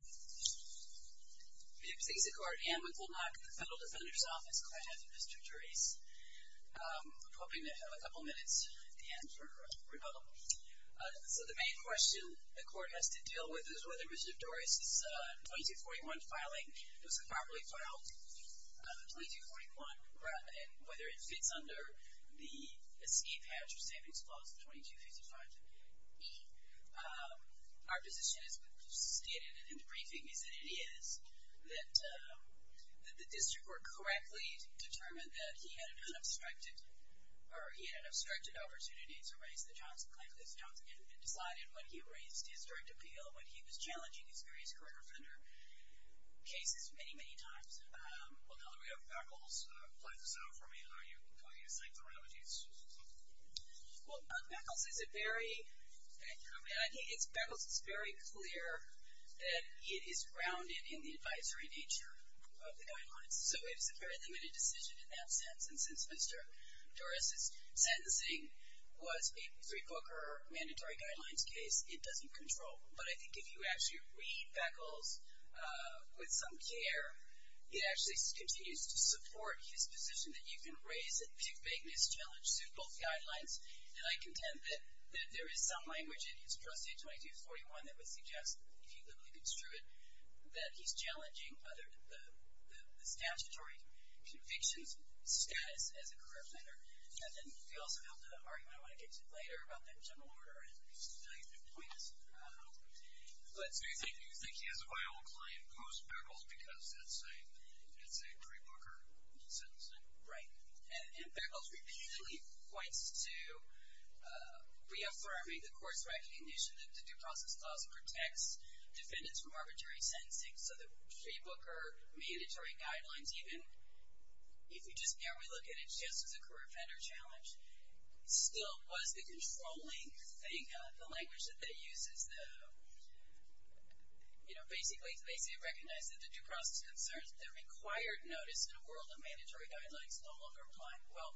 We have six in court and we will knock the Federal Defender's Office court out of Mr. Dorise. I'm hoping to have a couple minutes at the end for rebuttal. So the main question the court has to deal with is whether Mr. Dorise's 2241 filing was properly filed. 2241 and whether it fits under the escape hatch or savings clause of 2255-E. Our position as we've stated in the briefing is that it is. That the district court correctly determined that he had an unobstructed, or he had an obstructed opportunity to raise the Johnson claim because Johnson had been decided when he raised his direct appeal when he was challenging his various career offender cases many, many times. Well, now that we have Beckles playing this out for me, are you going to cite the remedies? Well, Beckles is a very, I mean, I think it's Beckles that's very clear that it is grounded in the advisory nature of the guidelines. So it is a very limited decision in that sense. And since Mr. Dorise's sentencing was a three-booker mandatory guidelines case, it doesn't control. But I think if you actually read Beckles with some care, he actually continues to support his position that you can raise it if you make this challenge suit both guidelines. And I contend that there is some language in his Proceed 2241 that would suggest, if you literally construe it, that he's challenging the statutory conviction status as a career planner. And then we also have the argument I want to get to later about the general order and the value of the points. Do you think he has a viable client post-Beckles because it's a three-booker sentencing? Right. And Beckles repeatedly points to reaffirming the court's recognition that the Due Process Clause protects defendants from arbitrary sentencing. So the three-booker mandatory guidelines, even if you just barely look at it just as a career offender challenge, still was the controlling thing, the language that they use is basically recognizing that the due process concerns that the required notice in a world of mandatory guidelines no longer apply. Well,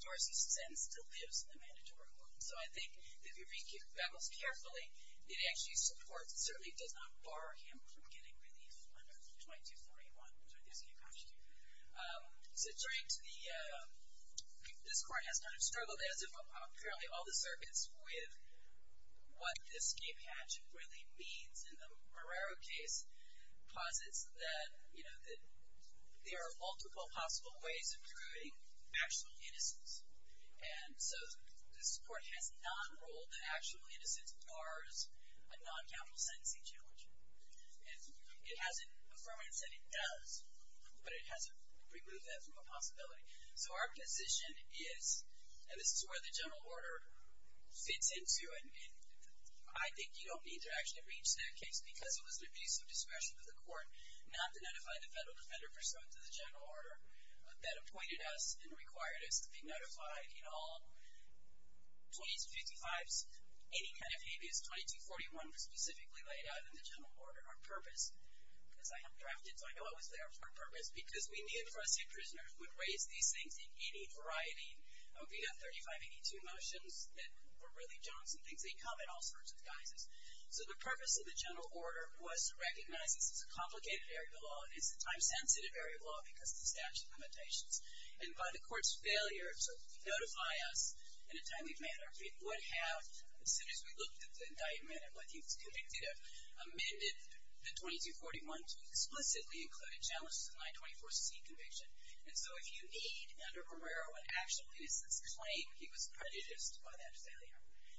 Dorsey's sentence still lives in the mandatory court. So I think if you read Beckles carefully, it actually supports and certainly does not bar him from getting relief under 2241, which I think is a key question. So this court has not struggled, as have apparently all the circuits, with what the escape hatch really means. And the Marrero case posits that, you know, that there are multiple possible ways of providing actual innocence. And so this court has not ruled that actual innocence bars a non-capital sentencing challenge. It hasn't affirmed and said it does, but it hasn't removed that from a possibility. So our position is, and this is where the general order fits into, and I think you don't need to actually reach that case because it was an abuse of discretion of the court not to notify the federal defender pursuant to the general order that appointed us and required us to be notified in all 2255s. Any kind of habeas 2241 was specifically laid out in the general order on purpose, as I have drafted, so I know it was there for a purpose, because we knew the Fresno State prisoners would raise these things in any variety. We had 3582 motions that were really junks and things. They come in all sorts of guises. So the purpose of the general order was to recognize this is a complicated area of law and it's a time-sensitive area of law because of the statute limitations. And by the court's failure to notify us in a timely manner, it would have, as soon as we looked at the indictment and what he was convicted of, amended the 2241 to explicitly include a challenge to the 924C conviction. And so if you need, under Barrera, what actually is this claim, he was prejudiced by that failure.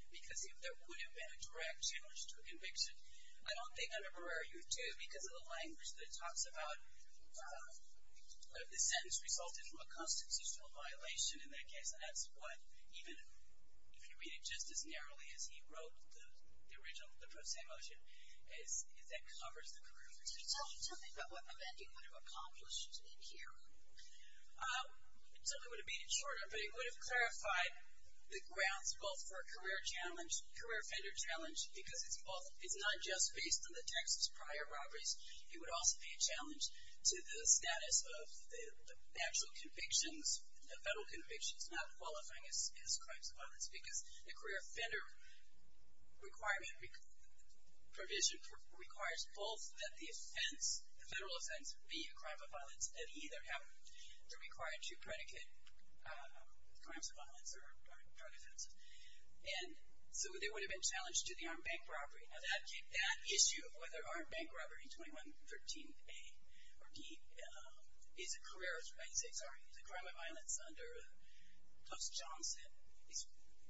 Because if there would have been a direct challenge to a conviction, I don't think under Barrera you would do it because of the language that talks about if the sentence resulted from a constitutional violation in that case. And that's what, even if you read it just as narrowly as he wrote the original, the pro se motion, is that covers the career. Can you tell me something about what amending would have accomplished in here? Something would have made it shorter, but it would have clarified the grounds both for a career challenge, career offender challenge, because it's both, it's not just based on the Texas prior robberies. It would also be a challenge to the status of the actual convictions, the federal convictions not qualifying as crimes of violence, because the career offender requirement, provision, requires both that the offense, the federal offense, be a crime of violence and either have, they're required to predicate crimes of violence or drug offenses. And so they would have been challenged to the armed bank robbery. Now that issue of whether armed bank robbery, 2113A or D, is a career, I should say, sorry, is a crime of violence under Post Johnson is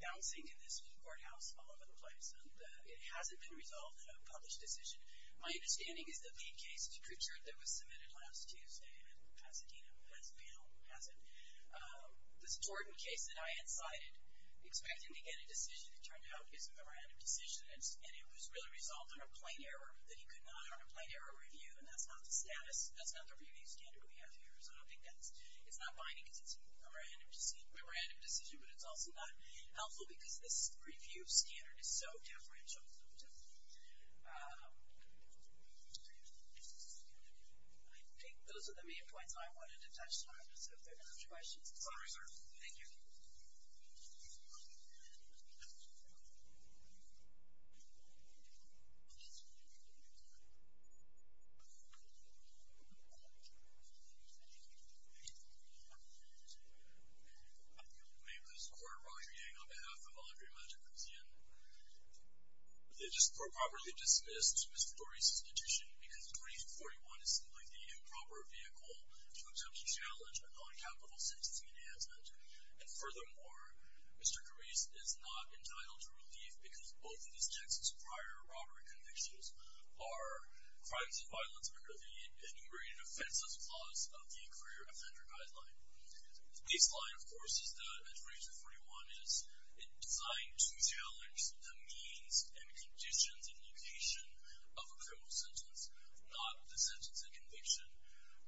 bouncing in this courthouse all over the place, and it hasn't been resolved in a published decision. My understanding is that the case to Kutcher that was submitted last Tuesday in Pasadena has failed, hasn't. This Jordan case that I had cited, expecting to get a decision that turned out is a memorandum decision, and it was really resolved on a plain error, that he could not have a plain error review, and that's not the status, that's not the standard we have here. So I don't think that's, it's not binding because it's a memorandum decision, but it's also not helpful because this review standard is so differential. I think those are the main points I wanted to touch on. Sorry, sir. Thank you. My name is Gordon Rodriguez on behalf of the Laundry Magic Museum. It is for properly dismissed, Mr. Dores' petition, because 3241 is simply the improper vehicle to attempt to challenge a non-capital sentencing enhancement. And furthermore, Mr. Dores is not entitled to relief because both of his Texas prior robbery convictions are crimes of violence under the Enumerated Offenses Clause of the Inquiry or Offender Guideline. The baseline, of course, is that 3241 is designed to challenge the means and conditions and location of a criminal sentence, not the sentence and conviction.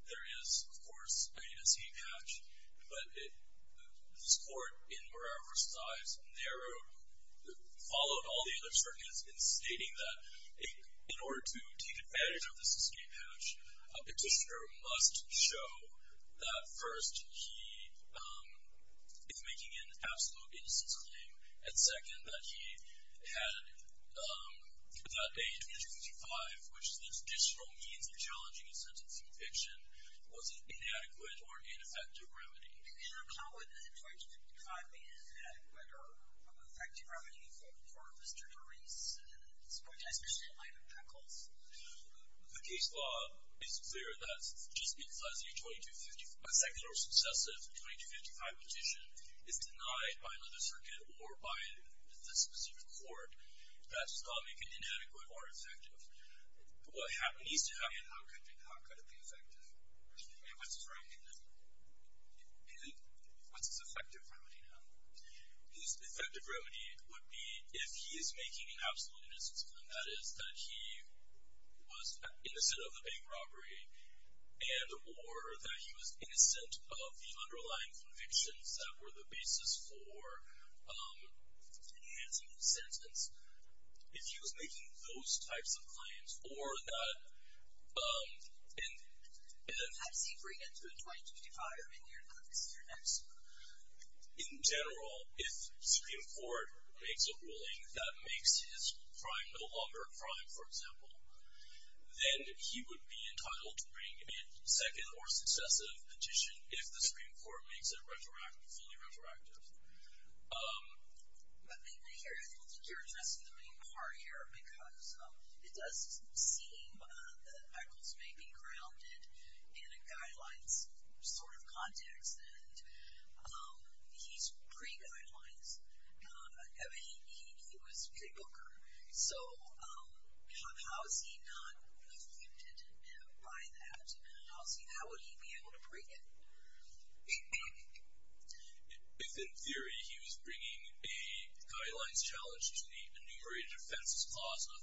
There is, of course, a escape hatch, but this Court in Morales v. Stives narrowed, followed all the other churn heads in stating that in order to take advantage of this escape hatch, a petitioner must show that, first, he is making an absolute innocence claim, and second, that a 2255, which is the traditional means of challenging a sentence and conviction, was an inadequate or ineffective remedy. And how would a 2255 be an inadequate or effective remedy for Mr. Dores' point, especially in light of trickles? The case law is clear that a second or successive 2255 petition is denied by another circuit or by the specific court that's thought to be an inadequate or effective. What needs to happen, how could it be effective? And what's his remedy now? His effective remedy would be if he is making an absolute innocence claim, that is, that he was innocent of the bank robbery and or that he was innocent of the underlying convictions that were the basis for enhancing the sentence. If he was making those types of claims or that... How does he bring it to a 2255? I mean, you're not missing your next one. In general, if the Supreme Court makes a ruling that makes his crime no longer a crime, for example, then he would be entitled to bring a second or successive petition if the Supreme Court makes it fully retroactive. I think you're addressing the main part here because it does seem that Echols may be grounded in a guidelines sort of context, and he's pre-guidelines. I mean, he was a pre-booker. So how is he not limited by that? How would he be able to bring it? If, in theory, he was bringing a guidelines challenge to the enumerated offenses clause of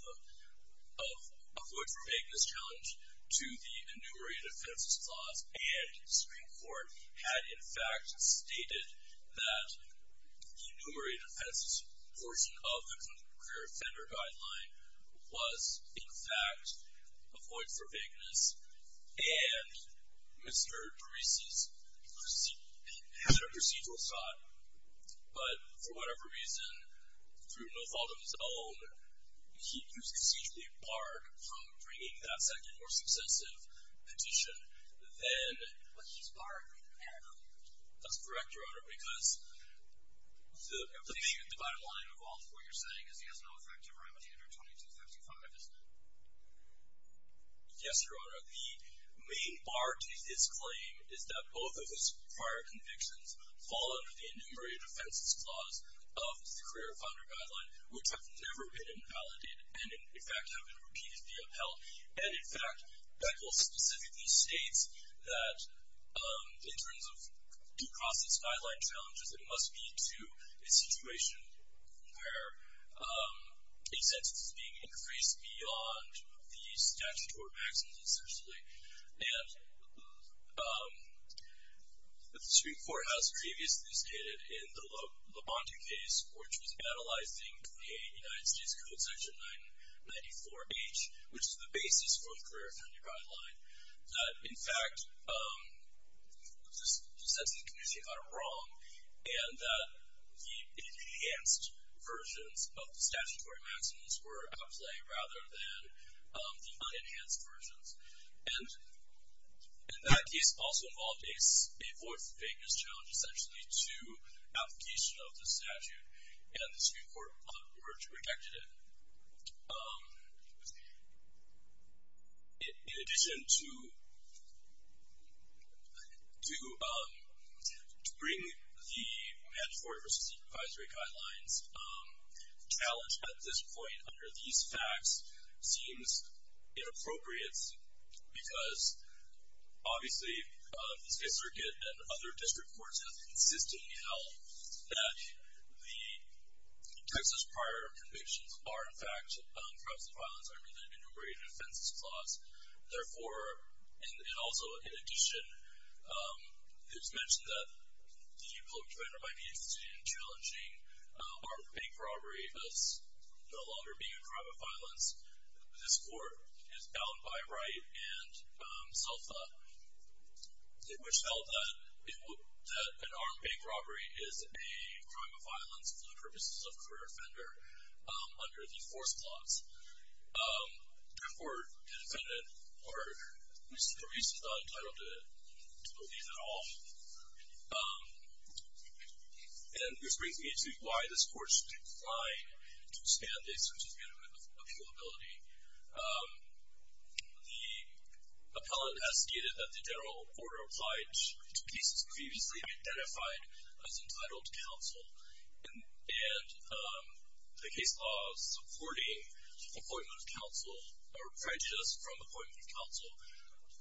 a void for vagueness challenge to the enumerated offenses clause, and the Supreme Court had, in fact, stated that the enumerated offenses portion of the concurred offender guideline was, in fact, a void for vagueness, and Mr. Parisi had a procedural shot, but for whatever reason, through no fault of his own, he was procedurally barred from bringing that second or successive petition, then... But he's barred from doing that? That's correct, Your Honor, because the bottom line of all of what you're saying is he has no effective remedy under 2255, isn't he? Yes, Your Honor. The main bar to his claim is that both of his prior convictions fall under the enumerated offenses clause of the career offender guideline, which have never been invalidated, and, in fact, have been repeatedly upheld. And, in fact, Beckel specifically states that in terms of due process guideline challenges, it must be to a situation where a sentence is being increased beyond the statute or maxims, essentially. And the Supreme Court has previously stated, in the Labonte case, which was catalyzing a United States Code section 994H, which is the basis for the career offender guideline, that, in fact, the sentencing commission got it wrong and that the enhanced versions of the statutory maxims were at play rather than the unenhanced versions. And that case also involved a fourth vagueness challenge, essentially, to application of the statute, and the Supreme Court rejected it. In addition, to bring the mandatory versus supervisory guidelines challenge at this point under these facts seems inappropriate because, obviously, the State Circuit and other district courts have consistently held that the Texas prior convictions are, in fact, crimes of violence under the Enumerated Offenses Clause. Therefore, and also, in addition, it's mentioned that the public defender might be interested in challenging armed bank robbery as no longer being a crime of violence. This Court is bound by right and self-law, which held that an armed bank robbery is a crime of violence for the purposes of career offender under the Force Clause. Therefore, the defendant is for reasons not entitled to believe at all. And this brings me to why this Court declined to stand a suit of unanimous appealability. The appellant has stated that the general order applied to cases previously identified as entitled to counsel, and the case of supporting appointment of counsel, or prejudice from appointment of counsel,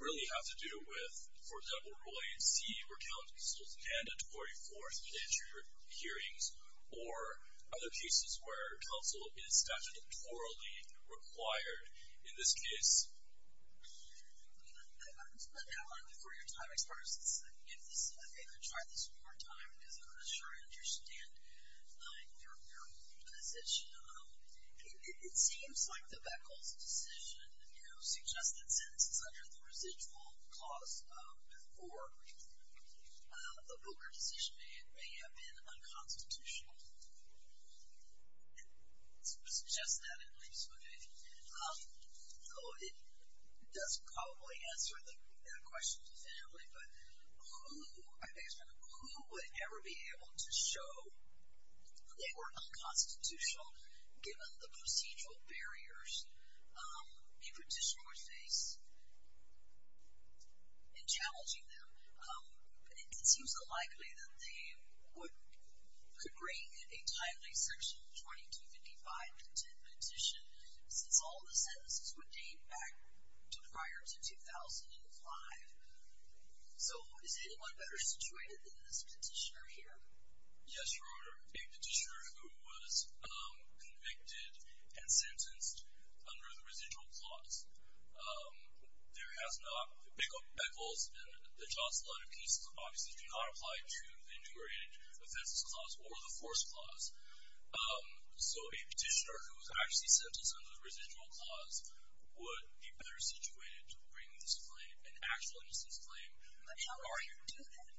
really have to do with, for example, Rule A and C, where counsel is mandated to quarry forth in inter-court hearings, or other cases where counsel is statutorily required. In this case... I'm just going to outline for your time, as far as this is an emphasis, I think I'll try this one more time, because I'm not sure I understand your position. It seems like the Beckles decision, who suggested sentences under the Residual Clause before, the Booker decision, may have been unconstitutional. To suggest that, at least, would be... It does probably answer that question definitively, but who would ever be able to show that they were unconstitutional, given the procedural barriers a petitioner would face in challenging them? It seems unlikely that they could bring a timely Section 2255-10 petition, since all the sentences would date back to prior to 2005. So, is anyone better situated than this petitioner here? Yes, Your Honor, a petitioner who was convicted and sentenced under the Residual Clause. There has not... Beckles and the Johnson letter cases obviously do not apply to the Integrated Offenses Clause or the Force Clause. So, a petitioner who was actually sentenced under the Residual Clause would be better situated to bring this claim, an actual innocence claim. But how are you doing it?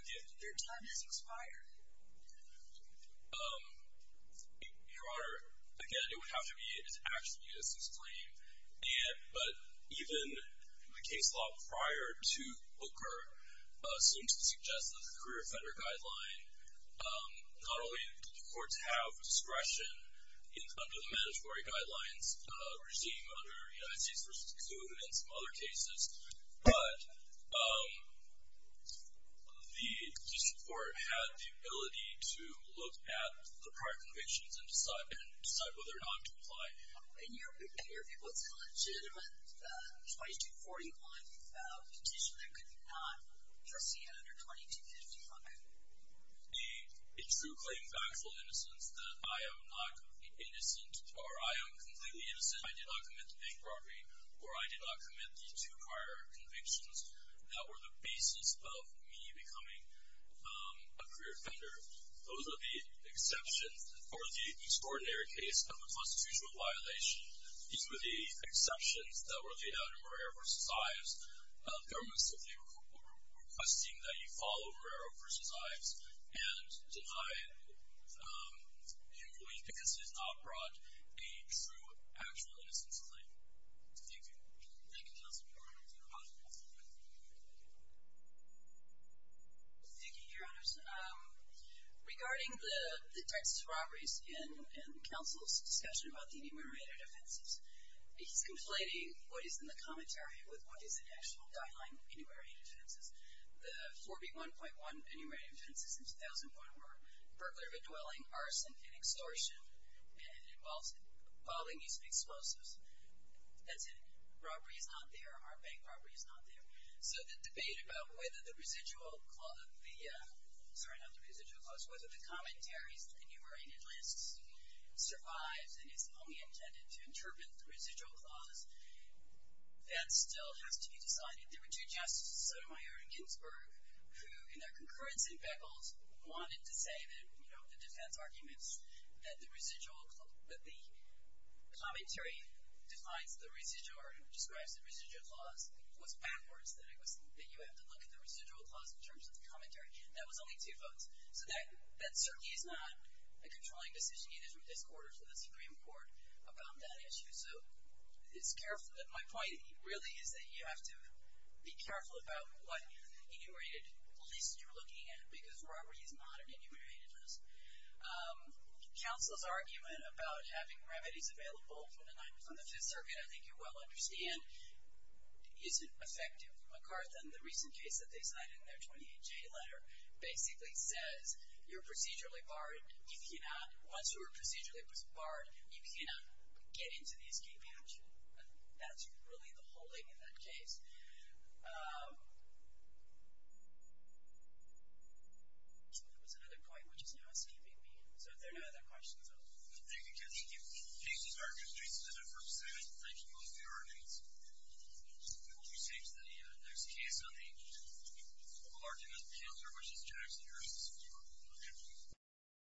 Again... Your time has expired. Your Honor, again, it would have to be an actual innocence claim, but even the case law prior to Booker seems to suggest that the Career Offender Guideline not only did the courts have discretion under the Mandatory Guidelines regime under United States v. Kuhn and some other cases, but the District Court had the ability to look at the prior convictions and decide whether or not to apply. In your view, what's a legitimate 2241 petition that could not proceed under 2255? A true claim of actual innocence that I am not completely innocent or I am completely innocent, I did not commit the bank robbery or I did not commit the two prior convictions that were the basis of me becoming a career offender. Those are the exceptions for the extraordinary case of a constitutional violation. These were the exceptions that were laid out in Guerrero v. Ives. The government simply was requesting that you follow Guerrero v. Ives and deny the employees because it has not brought a true, actual innocence claim. Thank you. Thank you, Counsel. Your Honor. Thank you, Your Honors. Regarding the Texas robberies in counsel's discussion about the numerator defenses, he's conflating what is in the commentary with what is in the actual guideline of the numerator defenses. The 4B1.1 enumerated defenses in 2001 were burglary of a dwelling, arson, and extortion and involving use of explosives. That's it. Robbery is not there. Our bank robbery is not there. So the debate about whether the residual clause, sorry, not the residual clause, whether the commentary's enumerated list survives and is only intended to interpret the residual clause, that still has to be decided. There were two justices, Sotomayor and Ginsburg, who, in their concurrency beckles, wanted to say that the defense arguments that the commentary defines the residual or describes the residual clause was backwards, that you have to look at the residual clause in terms of the commentary. That was only two votes. So that certainly is not a controlling decision. It is in discord with the Supreme Court about that issue. So it's careful. My point really is that you have to be careful about what enumerated list you're looking at because robbery is not an enumerated list. Counsel's argument about having remedies available from the Fifth Circuit, I think you well understand, isn't effective. MacArthur, in the recent case that they cited in their 28J letter, basically says you're procedurally barred. Once you're procedurally barred, you cannot get into the escape hatch. That's really the whole thing in that case. There was another point, which is no escaping me. So if there are no other questions, I'll... Thank you, Jackie. Thank you, Justice Arkins. Jason, I'd like to thank you both for your arguments. We will be seeing you in the next case on the local argument of cancer, which is Jackson versus McCormick.